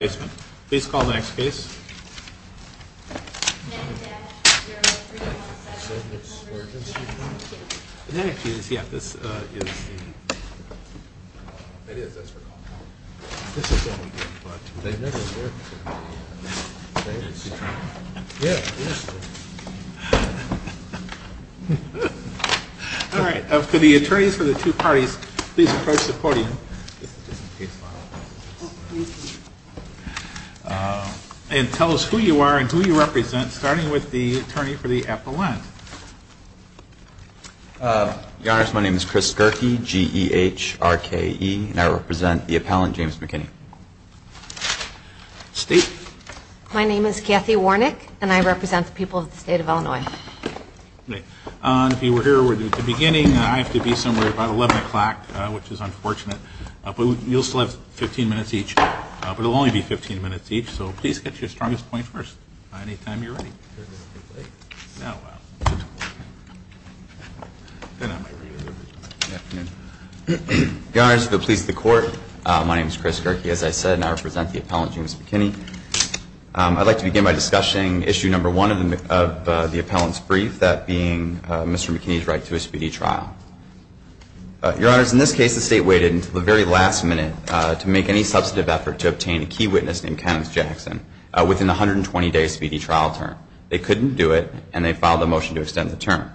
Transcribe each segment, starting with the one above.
Please call the next case. For the attorneys for the two parties, please approach the podium. And tell us who you are and who you represent, starting with the attorney for the appellant. Your Honor, my name is Chris Gerke, G-E-H-R-K-E, and I represent the appellant, James McKinney. State. My name is Kathy Warnick, and I represent the people of the state of Illinois. If you were here at the beginning, I have to be somewhere about 11 o'clock, which is unfortunate. But you'll still have 15 minutes each. But it will only be 15 minutes each, so please get your strongest point first, anytime you're ready. Your Honor, the police, the court, my name is Chris Gerke, as I said, and I represent the appellant, James McKinney. I'd like to begin by discussing issue number one of the appellant's brief, that being Mr. McKinney's right to a speedy trial. Your Honor, in this case, the state waited until the very last minute to make any substantive effort to obtain a key witness named Kenneth Jackson within the 120-day speedy trial term. They couldn't do it, and they filed a motion to extend the term.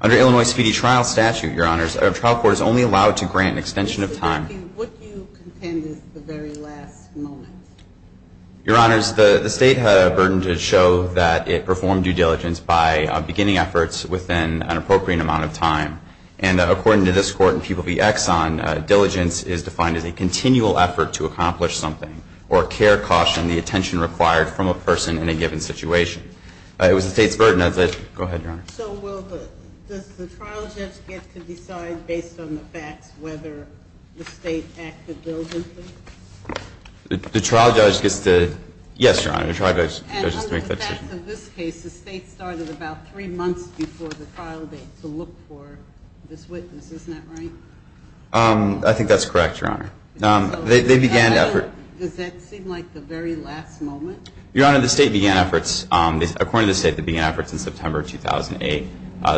Under Illinois speedy trial statute, Your Honor, a trial court is only allowed to grant an extension of time. What do you contend is the very last moment? Your Honor, the state had a burden to show that it performed due diligence by beginning efforts within an appropriate amount of time. And according to this court in People v. Exxon, diligence is defined as a continual effort to accomplish something or care, caution, the attention required from a person in a given situation. It was the state's burden. Go ahead, Your Honor. So does the trial judge get to decide based on the facts whether the state acted diligently? The trial judge gets to, yes, Your Honor, the trial judge gets to make that decision. And under the facts of this case, the state started about three months before the trial date to look for this witness. Isn't that right? I think that's correct, Your Honor. Does that seem like the very last moment? Your Honor, the state began efforts. According to the state, they began efforts in September 2008.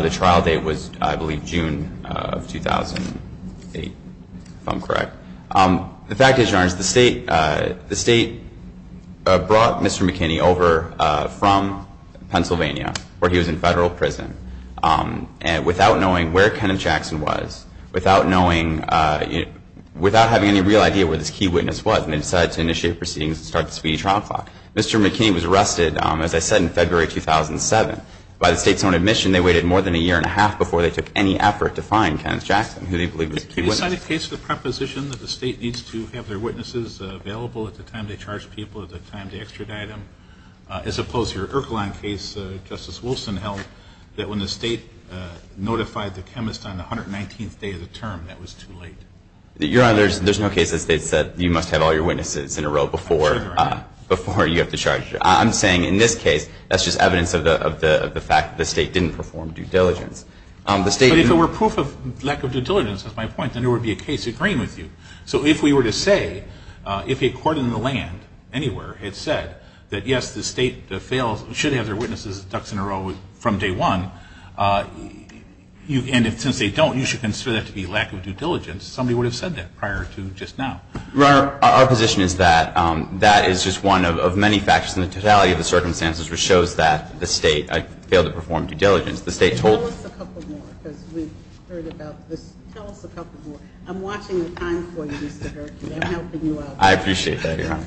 The trial date was, I believe, June of 2008, if I'm correct. The fact is, Your Honor, the state brought Mr. McKinney over from Pennsylvania, where he was in federal prison, and without knowing where Kenneth Jackson was, without having any real idea where this key witness was, they decided to initiate proceedings and start the speedy trial clock. Mr. McKinney was arrested, as I said, in February 2007. By the state's own admission, they waited more than a year and a half before they took any effort to find Kenneth Jackson, who they believe was the key witness. Is that a case of the preposition that the state needs to have their witnesses available at the time they charge people, at the time they extradite them, as opposed to your Ercolin case, Justice Wilson held, that when the state notified the chemist on the 119th day of the term, that was too late? Your Honor, there's no case that states that you must have all your witnesses in a row before you have to charge. I'm saying in this case, that's just evidence of the fact that the state didn't perform due diligence. But if it were proof of lack of due diligence, that's my point, then there would be a case agreeing with you. So if we were to say, if a court in the land anywhere had said that, yes, the state should have their witnesses in a row from day one, and since they don't, you should consider that to be lack of due diligence, somebody would have said that prior to just now. Your Honor, our position is that that is just one of many factors in the totality of the circumstances which shows that the state failed to perform due diligence. The state told the court. Tell us a couple more, because we've heard about this. Tell us a couple more. I'm watching the time for you, Mr. Herkey. I'm helping you out. I appreciate that, Your Honor.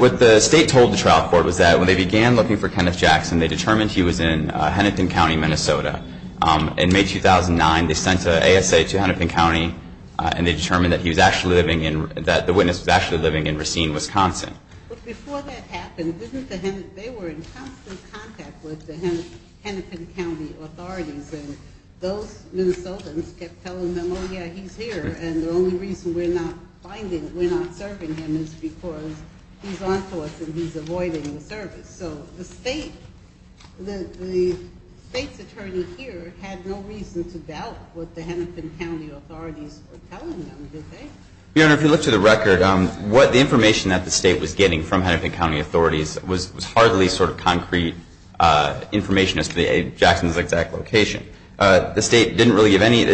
What the state told the trial court was that when they began looking for Kenneth Jackson, they determined he was in Hennepin County, Minnesota. In May 2009, they sent an ASA to Hennepin County, and they determined that he was actually living in, that the witness was actually living in Racine, Wisconsin. But before that happened, didn't the, they were in constant contact with the Hennepin County authorities, and those Minnesotans kept telling them, oh, yeah, he's here, and the only reason we're not finding, we're not serving him is because he's on to us, and he's avoiding the service. So the state, the state's attorney here had no reason to doubt what the Hennepin County authorities were telling them, did they? Your Honor, if you look to the record, what the information that the state was getting from Hennepin County authorities was hardly sort of concrete information as to Jackson's exact location. The state, the state didn't really give any,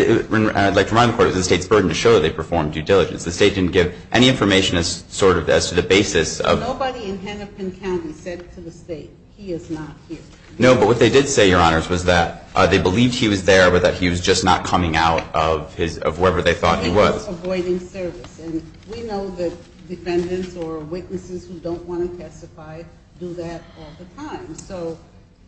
like from my report, it was the state's burden to show that they performed due diligence. The state didn't give any information as sort of, as to the basis of. Nobody in Hennepin County said to the state, he is not here. No, but what they did say, Your Honors, was that they believed he was there, but that he was just not coming out of his, of wherever they thought he was. He was avoiding service, and we know that defendants or witnesses who don't want to testify do that all the time. So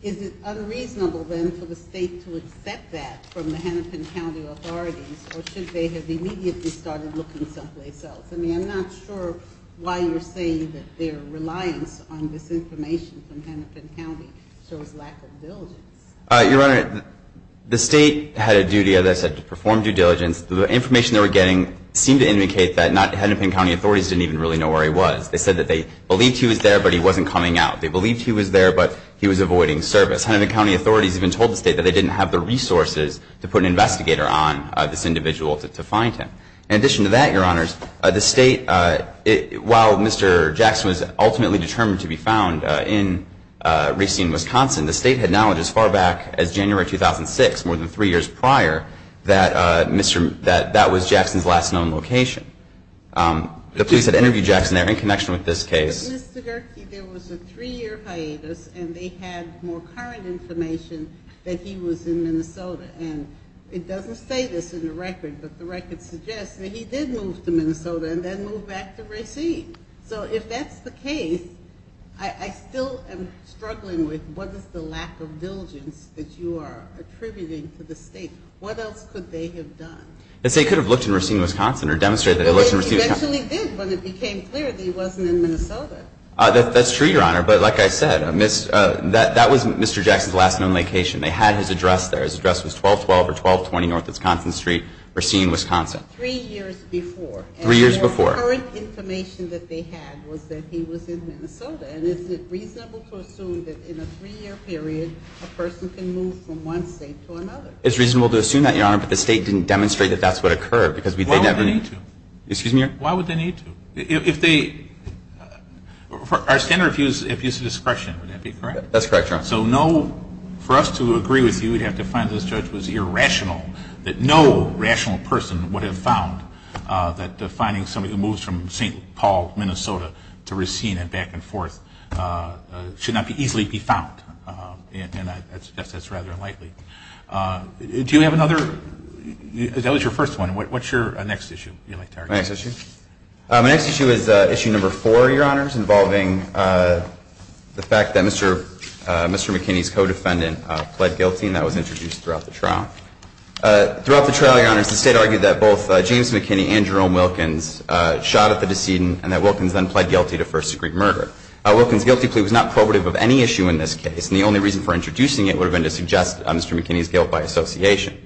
is it unreasonable then for the state to accept that from the Hennepin County authorities, or should they have immediately started looking someplace else? I mean, I'm not sure why you're saying that their reliance on this information from Hennepin County shows lack of diligence. Your Honor, the state had a duty, as I said, to perform due diligence. The information they were getting seemed to indicate that not Hennepin County authorities didn't even really know where he was. They said that they believed he was there, but he wasn't coming out. They believed he was there, but he was avoiding service. Hennepin County authorities even told the state that they didn't have the resources to put an investigator on this individual to find him. In addition to that, Your Honors, the state, while Mr. Jackson was ultimately determined to be found in Racine, Wisconsin, the state had knowledge as far back as January 2006, more than three years prior, that that was Jackson's last known location. The police had interviewed Jackson there in connection with this case. But, Mr. Gerke, there was a three-year hiatus, and they had more current information that he was in Minnesota. And it doesn't say this in the record, but the record suggests that he did move to Minnesota and then move back to Racine. So if that's the case, I still am struggling with what is the lack of diligence that you are attributing to the state. What else could they have done? The state could have looked in Racine, Wisconsin or demonstrated that it looked in Racine, Wisconsin. It actually did when it became clear that he wasn't in Minnesota. That's true, Your Honor. But like I said, that was Mr. Jackson's last known location. They had his address there. His address was 1212 or 1220 North Wisconsin Street, Racine, Wisconsin. Three years before. Three years before. And the more current information that they had was that he was in Minnesota. And is it reasonable to assume that in a three-year period, a person can move from one state to another? It's reasonable to assume that, Your Honor, but the state didn't demonstrate that that's what occurred because they never needed to. Excuse me? Why would they need to? If they – our standard of use is use of discretion. Would that be correct? That's correct, Your Honor. So no – for us to agree with you, we'd have to find that this judge was irrational, that no rational person would have found that finding somebody who moves from St. Paul, Minnesota to Racine and back and forth should not easily be found. And I suggest that's rather unlikely. Do you have another – that was your first one. What's your next issue you'd like to argue? Next issue? My next issue is issue number four, Your Honors, involving the fact that Mr. McKinney's co-defendant pled guilty, and that was introduced throughout the trial. Throughout the trial, Your Honors, the state argued that both James McKinney and Jerome Wilkins shot at the decedent and that Wilkins then pled guilty to first-degree murder. Wilkins' guilty plea was not probative of any issue in this case, and the only reason for introducing it would have been to suggest Mr. McKinney's guilt by association.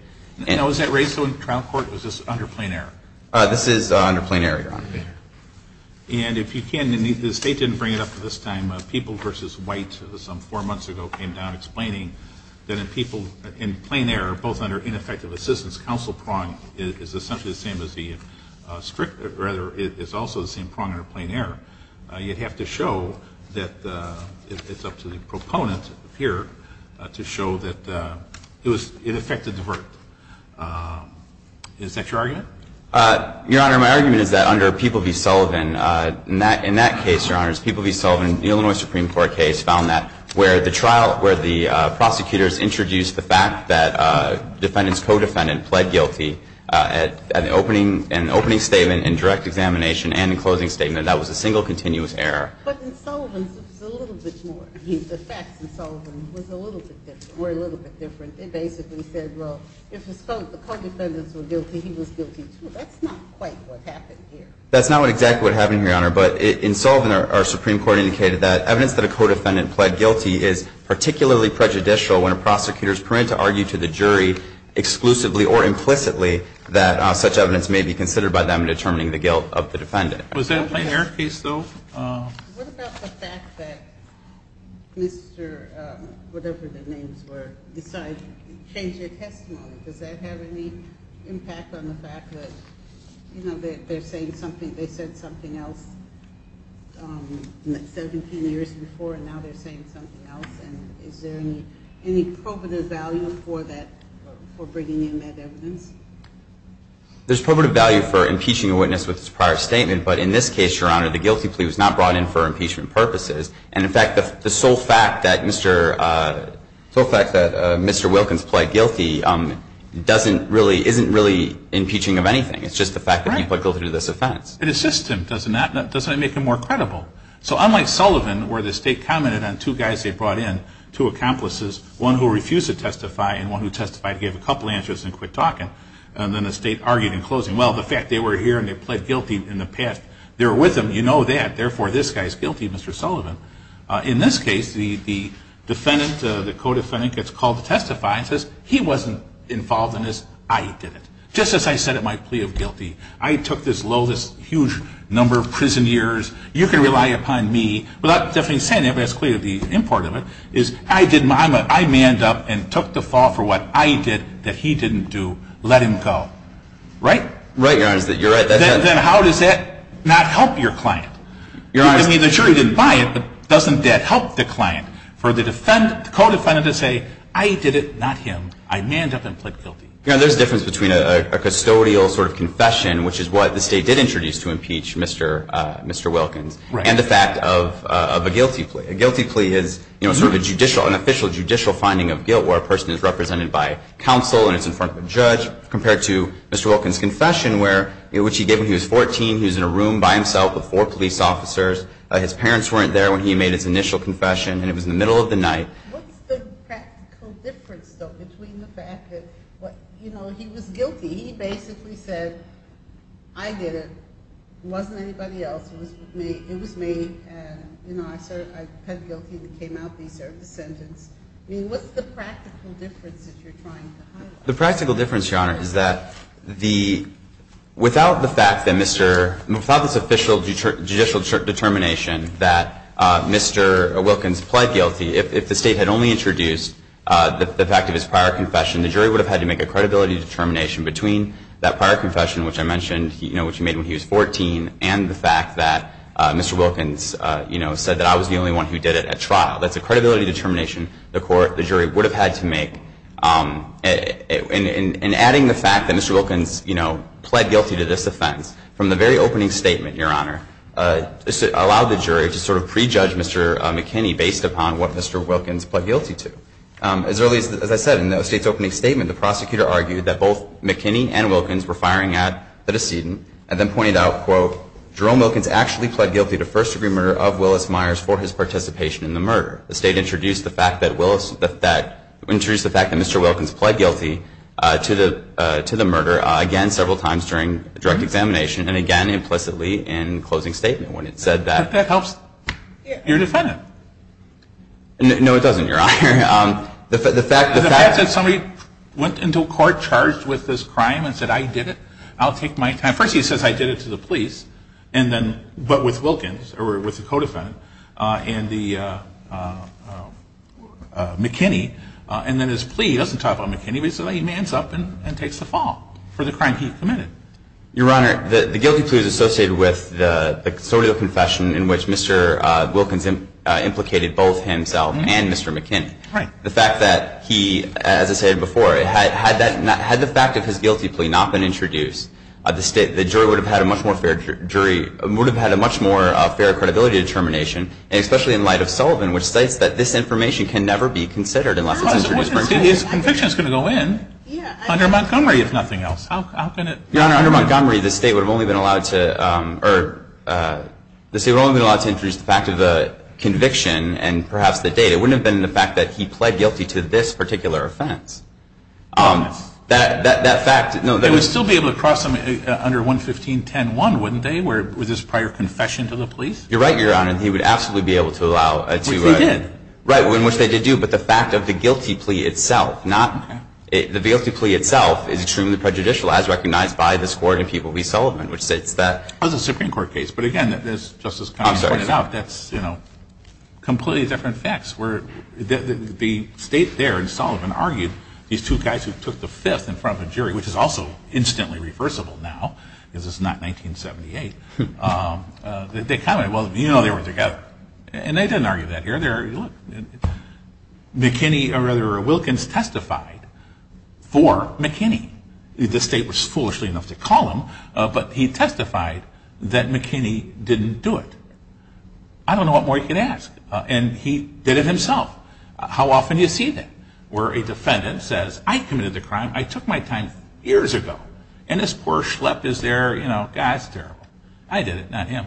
Now, was that raised in the trial court, or was this under plain error? This is under plain error, Your Honor. And if you can, the state didn't bring it up at this time. People v. White some four months ago came down explaining that in plain error, both under ineffective assistance counsel prong, is essentially the same as the – rather, it's also the same prong under plain error. You'd have to show that – it's up to the proponent here to show that it was – that it was an ineffective assistance counsel prong. So it's a little bit different. Is that your argument? Your Honor, my argument is that under People v. Sullivan, in that case, Your Honors, People v. Sullivan, the Illinois Supreme Court case found that where the trial – where the prosecutors introduced the fact that the defendant's co-defendant pled guilty at the opening – in the opening statement, in direct examination, and in the closing statement, that was a single continuous error. But in Sullivan's, it was a little bit more. The facts in Sullivan were a little bit different. They basically said, well, if the co-defendants were guilty, he was guilty, too. That's not quite what happened here. That's not exactly what happened here, Your Honor. But in Sullivan, our Supreme Court indicated that evidence that a co-defendant pled guilty is particularly prejudicial when a prosecutor is permitted to argue to the jury exclusively or implicitly that such evidence may be considered by them in determining the guilt of the defendant. Was that a plain error case, though? What about the fact that Mr. – whatever the names were – decided to change their testimony? Does that have any impact on the fact that, you know, they're saying something – they said something else 17 years before, and now they're saying something else? And is there any probative value for that – for bringing in that evidence? There's probative value for impeaching a witness with its prior statement. But in this case, Your Honor, the guilty plea was not brought in for impeachment purposes. And, in fact, the sole fact that Mr. – the sole fact that Mr. Wilkins pled guilty doesn't really – isn't really impeaching of anything. It's just the fact that he pled guilty to this offense. It assists him, doesn't it? Doesn't it make him more credible? So unlike Sullivan, where the State commented on two guys they brought in, two accomplices, one who refused to testify and one who testified, gave a couple answers, and quit talking, and then the State argued in closing, well, the fact they were here and they pled guilty in the past, they were with him, you know that, therefore this guy's guilty, Mr. Sullivan. In this case, the defendant, the co-defendant, gets called to testify and says, he wasn't involved in this, I did it. Just as I said in my plea of guilty, I took this low, this huge number of prison years, you can rely upon me, without definitely saying it, but it's clear the import of it, is I did my, I manned up and took the fall for what I did that he didn't do, let him go. Right? Right, Your Honor, you're right. Then how does that not help your client? I mean, the jury didn't buy it, but doesn't that help the client for the defendant, the co-defendant to say, I did it, not him, I manned up and pled guilty. Your Honor, there's a difference between a custodial sort of confession, which is what the State did introduce to impeach Mr. Wilkins, and the fact of a guilty plea. A guilty plea is, you know, sort of a judicial, an official judicial finding of guilt, where a person is represented by counsel and it's in front of a judge, compared to Mr. Wilkins' confession, which he gave when he was 14, he was in a room by himself with four police officers, his parents weren't there when he made his initial confession, and it was in the middle of the night. What's the practical difference, though, between the fact that, you know, he was guilty, he basically said, I did it, it wasn't anybody else, it was me, and, you know, I pled guilty and it came out that he served his sentence? I mean, what's the practical difference that you're trying to highlight? The practical difference, Your Honor, is that the, without the fact that Mr., without this official judicial determination that Mr. Wilkins pled guilty, if the State had only introduced the fact of his prior confession, the jury would have had to make a credibility determination between that prior confession, which I mentioned, you know, which he made when he was 14, and the fact that Mr. Wilkins, you know, said that I was the only one who did it at trial. That's a credibility determination the jury would have had to make. And adding the fact that Mr. Wilkins, you know, pled guilty to this offense, from the very opening statement, Your Honor, allowed the jury to sort of prejudge Mr. McKinney based upon what Mr. Wilkins pled guilty to. As early as I said, in the State's opening statement, the prosecutor argued that both McKinney and Wilkins were firing at the decedent and then pointed out, quote, Jerome Wilkins actually pled guilty to first-degree murder of Willis Myers for his participation in the murder. The State introduced the fact that Willis, that, introduced the fact that Mr. Wilkins pled guilty to the, to the murder again several times during direct examination and again implicitly in closing statement when it said that. But that helps your defendant. No, it doesn't, Your Honor. The fact that somebody went into court charged with this crime and said I did it, I'll take my time. First he says I did it to the police, and then, but with Wilkins, or with the co-defendant, and the, McKinney, and then his plea doesn't talk about McKinney, but he says he mans up and takes the fall for the crime he committed. Your Honor, the guilty plea is associated with the sort of confession in which Mr. Wilkins implicated both himself and Mr. McKinney. Right. The fact that he, as I said before, had that, had the fact of his guilty plea not been introduced, the State, the jury would have had a much more fair jury, would have had a much more fair credibility determination, and especially in light of Sullivan, which states that this information can never be considered unless it's introduced. His conviction is going to go in under Montgomery, if nothing else. How can it? Your Honor, under Montgomery, the State would have only been allowed to, or the State would have only been allowed to introduce the fact of the conviction and perhaps the date. That fact, no. They would still be able to cross him under 115.10.1, wouldn't they, with his prior confession to the police? You're right, Your Honor. He would absolutely be able to allow. Which they did. Right, which they did do. But the fact of the guilty plea itself, not, the guilty plea itself is extremely prejudicial, as recognized by this Court in People v. Sullivan, which states that. That was a Supreme Court case. But again, as Justice Connolly pointed out, that's, you know, completely different facts. The State there in Sullivan argued these two guys who took the fifth in front of a jury, which is also instantly reversible now, because it's not 1978. They commented, well, you know they were together. And they didn't argue that here. McKinney, or rather Wilkins, testified for McKinney. The State was foolishly enough to call him, but he testified that McKinney didn't do it. I don't know what more you can ask. And he did it himself. How often do you see that? Where a defendant says, I committed the crime, I took my time years ago, and this poor schlep is there, you know, that's terrible. I did it, not him.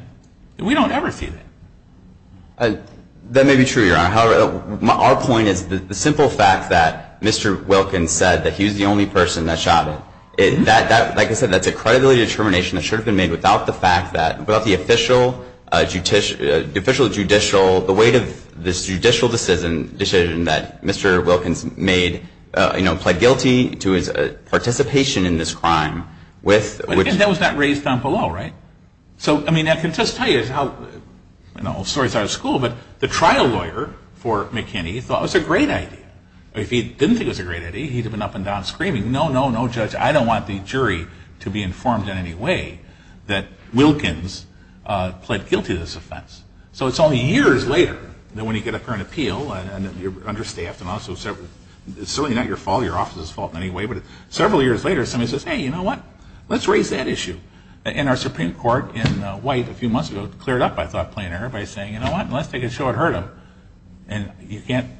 We don't ever see that. That may be true, Your Honor. However, our point is the simple fact that Mr. Wilkins said that he was the only person that shot him. Like I said, that's a credibility determination that should have been made without the fact that, without the official judicial, the weight of this judicial decision that Mr. Wilkins made, you know, pled guilty to his participation in this crime. And that was not raised down below, right? So, I mean, I can just tell you how, the whole story is out of school, but the trial lawyer for McKinney thought it was a great idea. If he didn't think it was a great idea, he would have been up and down screaming, no, no, no, judge, I don't want the jury to be informed in any way that Wilkins pled guilty to this offense. So it's only years later that when you get up for an appeal, and you're understaffed, and also it's certainly not your fault, your office's fault anyway, but several years later somebody says, hey, you know what, let's raise that issue. And our Supreme Court in White a few months ago cleared up, I thought, plain error by saying, you know what, let's take it short, hurt him. And you can't,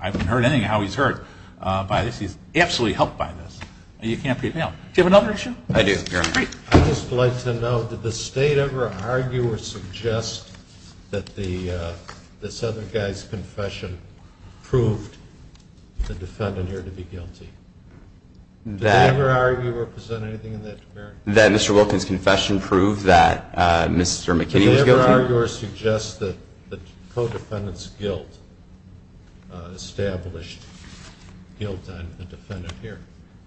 I haven't heard anything how he's hurt by this. He's absolutely helped by this. You can't put it down. Do you have another issue? I do. Great. I would just like to know, did the State ever argue or suggest that this other guy's confession proved the defendant here to be guilty? Did they ever argue or present anything in that regard? That Mr. Wilkins' confession proved that Mr. McKinney was guilty? Did the State ever argue or suggest that the co-defendant's guilt established guilt on the defendant here?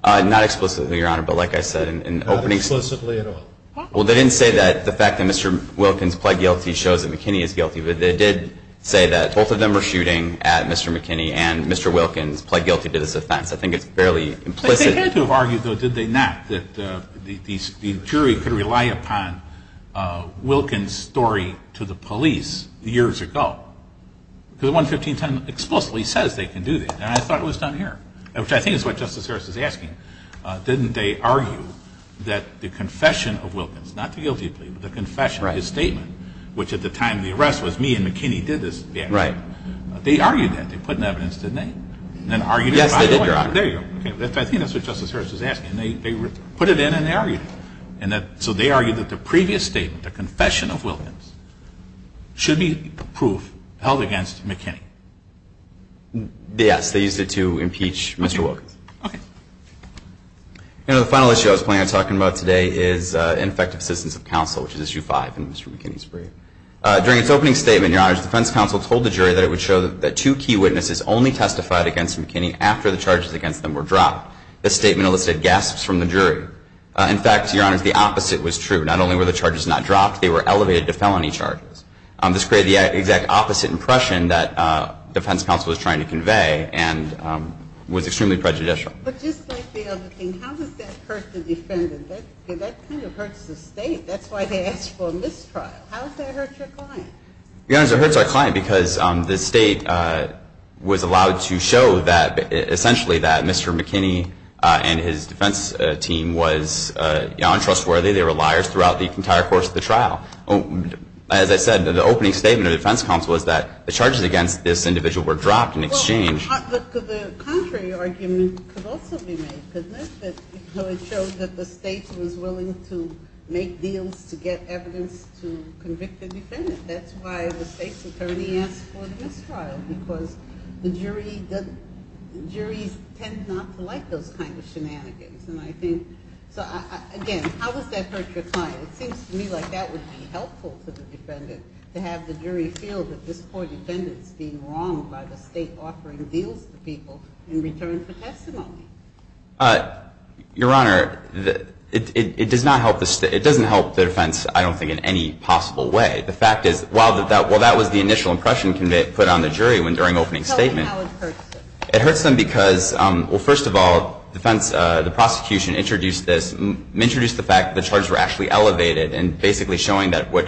Not explicitly, Your Honor, but like I said in the opening. Not explicitly at all? Well, they didn't say that the fact that Mr. Wilkins pled guilty shows that McKinney is guilty, but they did say that both of them were shooting at Mr. McKinney and Mr. Wilkins pled guilty to this offense. I think it's fairly implicit. They had to have argued, though, did they not, that the jury could rely upon Wilkins' story to the police years ago. Because 11510 explicitly says they can do that, and I thought it was done here, which I think is what Justice Harris is asking. Didn't they argue that the confession of Wilkins, not the guilty plea, but the confession, his statement, which at the time of the arrest was me and McKinney did this bad job, they argued that. They put in evidence, didn't they? Yes, they did, Your Honor. There you go. I think that's what Justice Harris is asking. They put it in and they argued it. So they argued that the previous statement, the confession of Wilkins, should be proof held against McKinney. Yes, they used it to impeach Mr. Wilkins. Okay. The final issue I was planning on talking about today is ineffective assistance of counsel, which is issue five in Mr. McKinney's brief. During its opening statement, Your Honor, the defense counsel told the jury that it would show that two key witnesses only testified against McKinney after the charges against them were dropped. This statement elicited gasps from the jury. In fact, Your Honor, the opposite was true. Not only were the charges not dropped, they were elevated to felony charges. This created the exact opposite impression that defense counsel was trying to convey and was extremely prejudicial. But just like the other thing, how does that hurt the defendant? That kind of hurts the state. That's why they asked for a mistrial. How does that hurt your client? Your Honor, it hurts our client because the state was allowed to show that essentially that Mr. McKinney and his defense team was untrustworthy. They were liars throughout the entire course of the trial. As I said, the opening statement of the defense counsel was that the charges against this individual were dropped in exchange. Well, but the contrary argument could also be made, couldn't it? Because it showed that the state was willing to make deals to get evidence to convict the defendant. That's why the state's attorney asked for the mistrial, because the jury tends not to like those kinds of shenanigans. And I think, again, how does that hurt your client? It seems to me like that would be helpful to the defendant, to have the jury feel that this poor defendant is being wronged by the state offering deals to people in return for testimony. Your Honor, it doesn't help the defense, I don't think, in any possible way. The fact is, while that was the initial impression put on the jury during the opening statement, it hurts them because, well, first of all, defense, the prosecution introduced this, introduced the fact that the charges were actually elevated and basically showing that what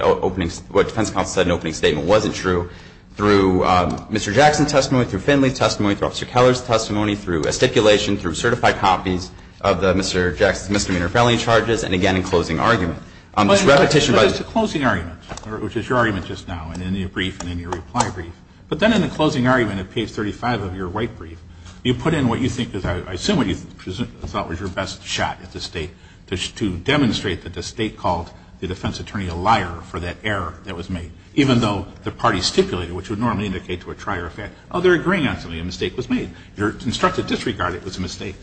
defense counsel said in the opening statement wasn't true through Mr. Jackson's testimony, through Finley's testimony, through Officer Keller's testimony, through a stipulation, through certified copies of Mr. Jackson's misdemeanor felony charges, and again in closing argument. But it's a closing argument, which is your argument just now, and in your brief, and in your reply brief. But then in the closing argument at page 35 of your white brief, you put in what you think is, I assume what you thought was your best shot at the state to demonstrate that the state called the defense attorney a liar for that error that was made, even though the party stipulated, which would normally indicate to a trier effect, oh, they're agreeing on something, a mistake was made. Your instructed disregard, it was a mistake.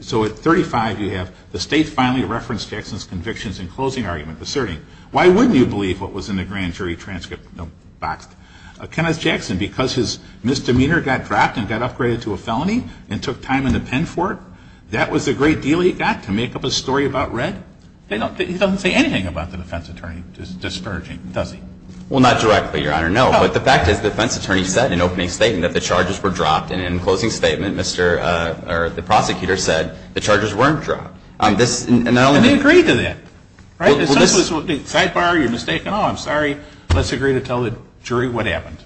So at 35 you have, the state finally referenced Jackson's convictions in closing argument, asserting, why wouldn't you believe what was in the grand jury transcript boxed? Kenneth Jackson, because his misdemeanor got dropped and got upgraded to a felony and took time in the pen for it, that was the great deal he got to make up a story about red? He doesn't say anything about the defense attorney discharging, does he? Well, not directly, Your Honor, no. But the fact is the defense attorney said in opening statement that the charges were dropped and in closing statement the prosecutor said the charges weren't dropped. And they agreed to that, right? Sidebar, you're mistaken, oh, I'm sorry, let's agree to tell the jury what happened.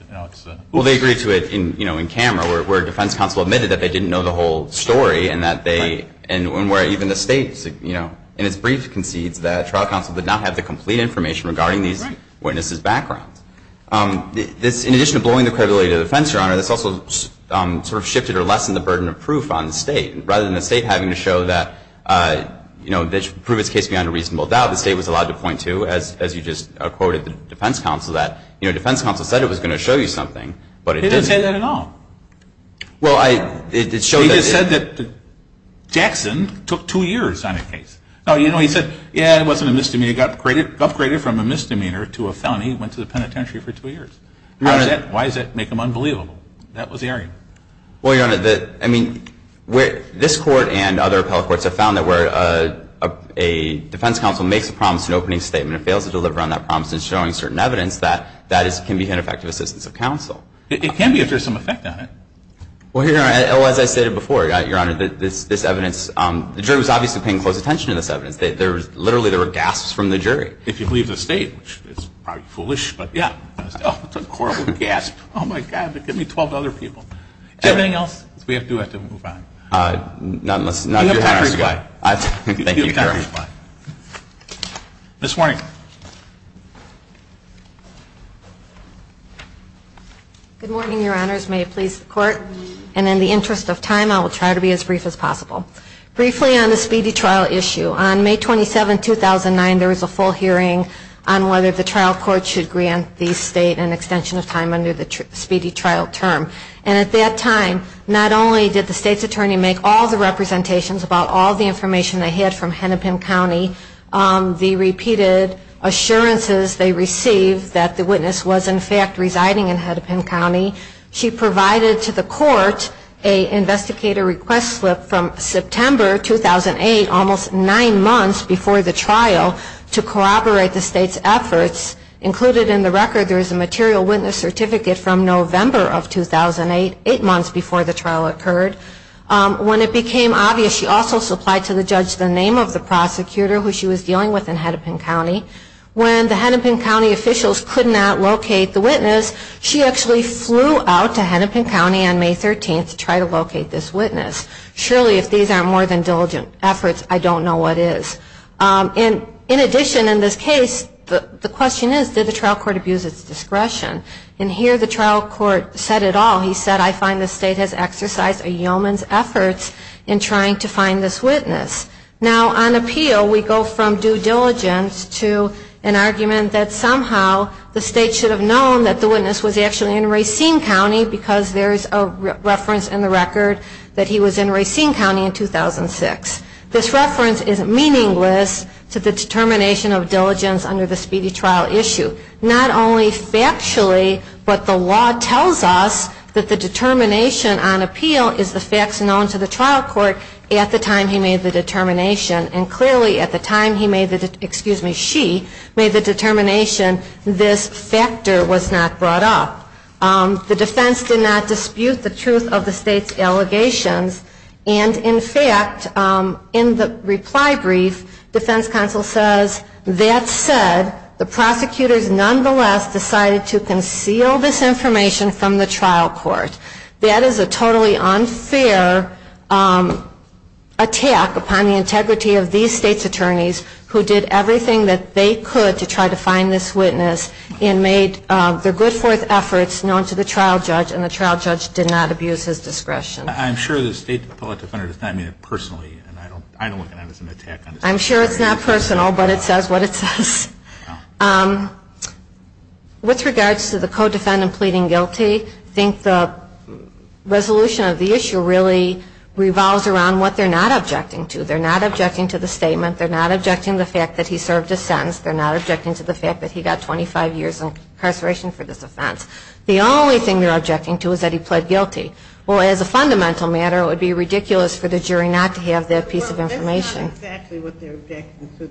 Well, they agreed to it in camera where defense counsel admitted that they didn't know the whole story and that they, and where even the state, in its brief, concedes that trial counsel did not have the complete information regarding In addition to blowing the credibility of the defense, Your Honor, this also sort of shifted or lessened the burden of proof on the state. Rather than the state having to show that, you know, prove its case beyond a reasonable doubt, the state was allowed to point to, as you just quoted the defense counsel, that, you know, defense counsel said it was going to show you something, but it didn't. He didn't say that at all. Well, I, it showed that. He just said that Jackson took two years on a case. No, you know, he said, yeah, it wasn't a misdemeanor, it got upgraded from a misdemeanor to a felony and went to the penitentiary for two years. Your Honor. Why does that make him unbelievable? That was the argument. Well, Your Honor, the, I mean, this Court and other appellate courts have found that where a defense counsel makes a promise in an opening statement and fails to deliver on that promise in showing certain evidence, that, that can be an effective assistance of counsel. It can be if there's some effect on it. Well, Your Honor, as I stated before, Your Honor, this evidence, the jury was obviously paying close attention to this evidence. There was, literally, there were gasps from the jury. If you believe the state, which is probably foolish, but yeah. Oh, it's a horrible gasp. Oh, my God. Give me 12 other people. Do you have anything else? We do have to move on. None. Let's not do that. You have time to respond. Thank you, Your Honor. You have time to respond. Ms. Warnick. Good morning, Your Honors. May it please the Court. And in the interest of time, I will try to be as brief as possible. Briefly on the speedy trial issue, on May 27, 2009, there was a full hearing on whether the trial court should grant the state an extension of time under the speedy trial term. And at that time, not only did the state's attorney make all the representations about all the information they had from Hennepin County, the repeated assurances they received that the witness was, in fact, residing in Hennepin County. She provided to the court an investigator request slip from September 2008, almost nine months before the trial, to corroborate the state's efforts. Included in the record, there is a material witness certificate from November of 2008, eight months before the trial occurred. When it became obvious, she also supplied to the judge the name of the prosecutor who she was dealing with in Hennepin County. When the Hennepin County officials could not locate the witness, she actually flew out to Hennepin County on May 13 to try to locate this witness. Surely, if these aren't more than diligent efforts, I don't know what is. In addition, in this case, the question is, did the trial court abuse its discretion? And here the trial court said it all. He said, I find the state has exercised a yeoman's efforts in trying to find this witness. Now, on appeal, we go from due diligence to an argument that somehow the state should have known that the witness was actually in Racine County because there is a reference in the record that he was in Racine County in 2006. This reference is meaningless to the determination of diligence under the speedy trial issue. Not only factually, but the law tells us that the determination on appeal is the facts known to the trial court at the time he made the determination. And clearly, at the time he made the, excuse me, she made the determination, this factor was not brought up. The defense did not dispute the truth of the state's allegations. And in fact, in the reply brief, defense counsel says, that said, the prosecutors nonetheless decided to conceal this information from the trial court. That is a totally unfair attack upon the integrity of these state's attorneys who did everything that they could to try to find this witness and make their good forth efforts known to the trial judge. And the trial judge did not abuse his discretion. I'm sure the state public defender does not mean it personally. And I don't look at it as an attack on the state. I'm sure it's not personal, but it says what it says. With regards to the co-defendant pleading guilty, I think the resolution of the issue really revolves around what they're not objecting to. They're not objecting to the statement. They're not objecting to the fact that he served a sentence. They're not objecting to the fact that he got 25 years of incarceration for this offense. The only thing they're objecting to is that he pled guilty. Well, as a fundamental matter, it would be ridiculous for the jury not to have that piece of information. Well, that's not exactly what they're objecting to.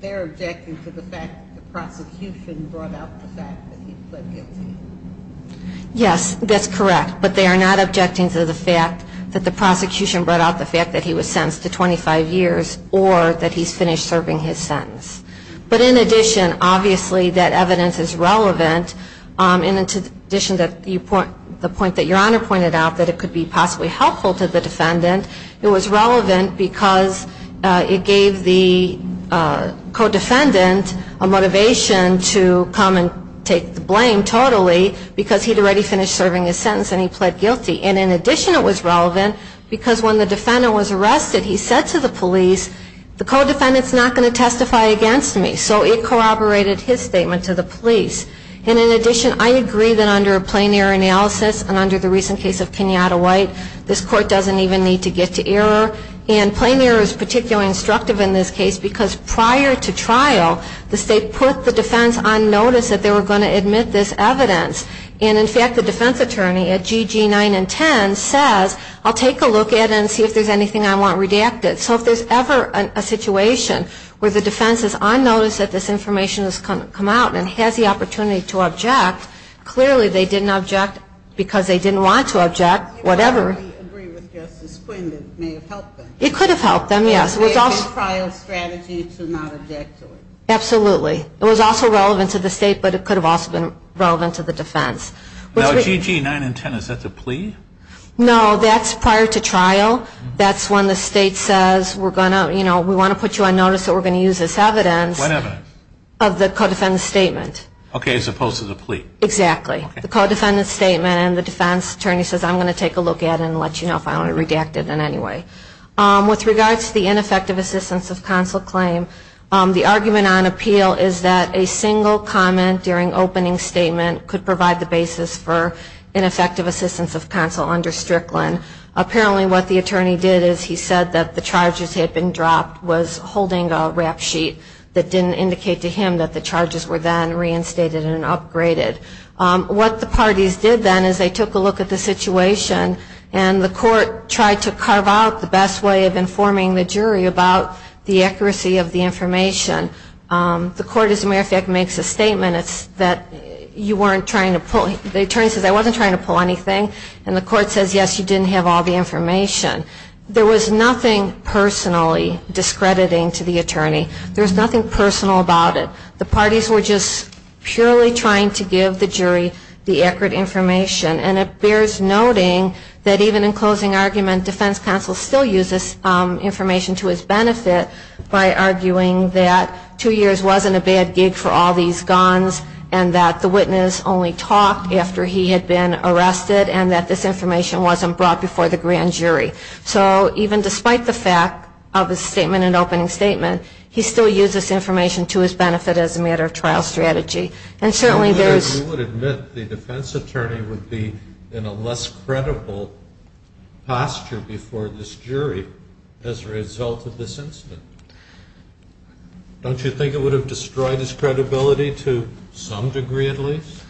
They're objecting to the fact that the prosecution brought out the fact that he pled guilty. Yes, that's correct. But they are not objecting to the fact that the prosecution brought out the fact that he was sentenced to 25 years or that he's finished serving his sentence. But in addition, obviously, that evidence is relevant. And in addition to the point that Your Honor pointed out, that it could be possibly helpful to the defendant, it was relevant because it gave the co-defendant a motivation to come and take the blame totally because he'd already finished serving his sentence and he pled guilty. And in addition, it was relevant because when the defendant was arrested, he said to the police, the co-defendant's not going to testify against me. So it corroborated his statement to the police. And in addition, I agree that under a plain error analysis and under the recent case of Kenyatta White, this court doesn't even need to get to error. And plain error is particularly instructive in this case because prior to trial, the state put the defense on notice that they were going to admit this evidence. And in fact, the defense attorney at GG9 and 10 says, I'll take a look at it and see if there's anything I want redacted. So if there's ever a situation where the defense is on notice that this information has come out and has the opportunity to object, clearly they didn't object because they didn't want to object, whatever. I agree with Justice Quinn that it may have helped them. It could have helped them, yes. It was a prior strategy to not object to it. Absolutely. It was also relevant to the state, but it could have also been relevant to the defense. Now, GG9 and 10, is that the plea? No, that's prior to trial. That's when the state says, we want to put you on notice that we're going to use this evidence. Whatever. Of the co-defendant's statement. Okay, as opposed to the plea. Exactly. The co-defendant's statement and the defense attorney says, I'm going to take a look at it and let you know if I want to redact it in any way. With regards to the ineffective assistance of counsel claim, the argument on appeal is that a single comment during opening statement could provide the basis for ineffective assistance of counsel under Strickland. Apparently what the attorney did is he said that the charges had been dropped was holding a rap sheet that didn't indicate to him that the charges were then reinstated and upgraded. What the parties did then is they took a look at the situation and the court tried to carve out the best way of informing the jury about the accuracy of the information. The court, as a matter of fact, makes a statement that you weren't trying to pull. The attorney says, I wasn't trying to pull anything. And the court says, yes, you didn't have all the information. There was nothing personally discrediting to the attorney. There was nothing personal about it. The parties were just purely trying to give the jury the accurate information. And it bears noting that even in closing argument, defense counsel still uses information to his benefit by arguing that two years wasn't a bad gig for all these guns and that the witness only talked after he had been arrested and that this information wasn't brought before the grand jury. So even despite the fact of a statement, an opening statement, he still uses information to his benefit as a matter of trial strategy. And certainly there's – You would admit the defense attorney would be in a less credible posture before this jury as a result of this incident. Don't you think it would have destroyed his credibility to some degree at least?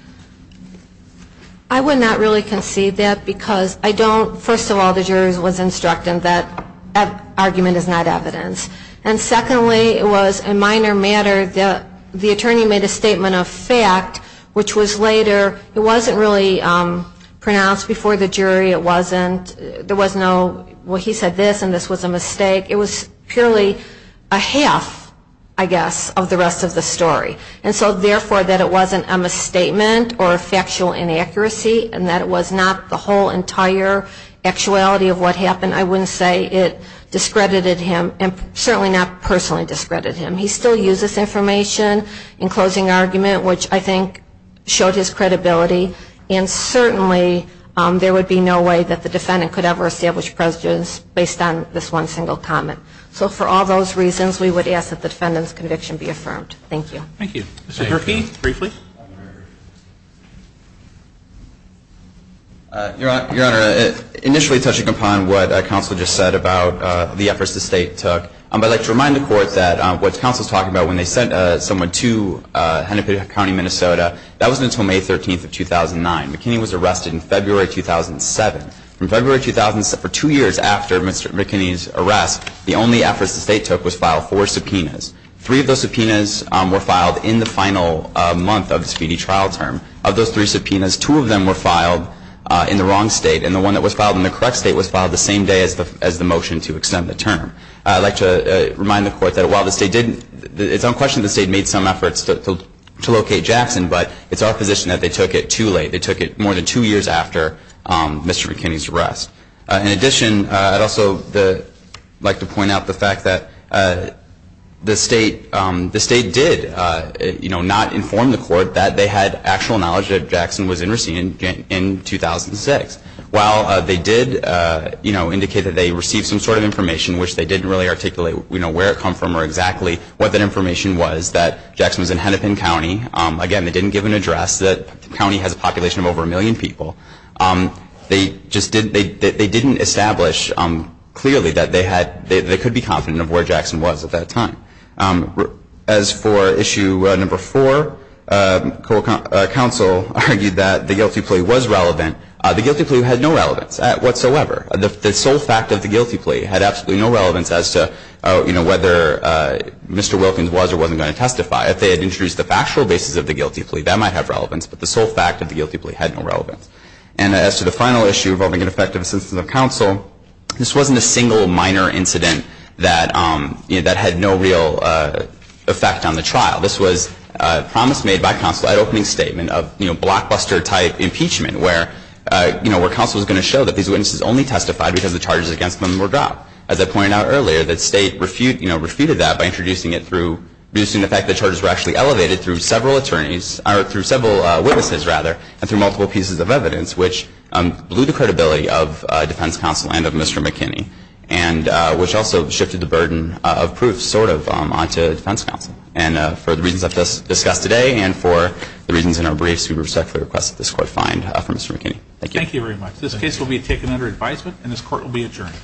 I would not really concede that because I don't – first of all, the jury was instructing that that argument is not evidence. And secondly, it was a minor matter that the attorney made a statement of fact, which was later – it wasn't really pronounced before the jury. It wasn't – there was no – well, he said this and this was a mistake. It was purely a half, I guess, of the rest of the story. And so therefore that it wasn't a misstatement or a factual inaccuracy and that it was not the whole entire actuality of what happened, I wouldn't say it discredited him and certainly not personally discredited him. He still uses information in closing argument, which I think showed his And so I think that's the only way that the defendant could ever establish prejudice based on this one single comment. So for all those reasons, we would ask that the defendant's conviction be affirmed. Thank you. Thank you. Mr. Durkee, briefly. Your Honor, initially touching upon what counsel just said about the efforts the state took, I'd like to remind the Court that what counsel's talking about when they sent someone to Hennepin County, Minnesota, that wasn't until May 13th of 2009. McKinney was arrested in February 2007. From February 2007 – for two years after Mr. McKinney's arrest, the only efforts the state took was file four subpoenas. Three of those subpoenas were filed in the final month of the speedy trial term. Of those three subpoenas, two of them were filed in the wrong state and the one that was filed in the correct state was filed the same day as the motion to extend the term. I'd like to remind the Court that while the state did – it's unquestionable the state made some efforts to locate Jackson, but it's our position that they took it too late. They took it more than two years after Mr. McKinney's arrest. In addition, I'd also like to point out the fact that the state did, you know, not inform the Court that they had actual knowledge that Jackson was in Racine in 2006. While they did, you know, indicate that they received some sort of information which they didn't really articulate, you know, where it come from or exactly what that information was, that Jackson was in Hennepin County. Again, they didn't give an address. The county has a population of over a million people. They just didn't – they didn't establish clearly that they had – they could be confident of where Jackson was at that time. As for issue number four, the Court of Counsel argued that the guilty plea was relevant. The guilty plea had no relevance whatsoever. The sole fact of the guilty plea had absolutely no relevance as to, you know, whether Mr. Wilkins was or wasn't going to testify. If they had introduced the factual basis of the guilty plea, that might have relevance, but the sole fact of the guilty plea had no relevance. And as to the final issue involving ineffective assistance of counsel, this wasn't a single minor incident that, you know, that had no real effect on the trial. This was a promise made by counsel at opening statement of, you know, blockbuster type impeachment where, you know, where counsel was going to show that these witnesses only testified because the charges against them were dropped. As I pointed out earlier, the State refuted, you know, refuted that by introducing it through – introducing the fact that charges were actually elevated through several attorneys – or through several witnesses, rather, and through multiple pieces of evidence, which blew the credibility of defense counsel and of Mr. McKinney, and which also shifted the burden of proof sort of onto defense counsel. And for the reasons I've discussed today and for the reasons in our briefs, we respectfully request that this court find for Mr. McKinney. Thank you. Thank you very much. This case will be taken under advisement, and this court will be adjourned.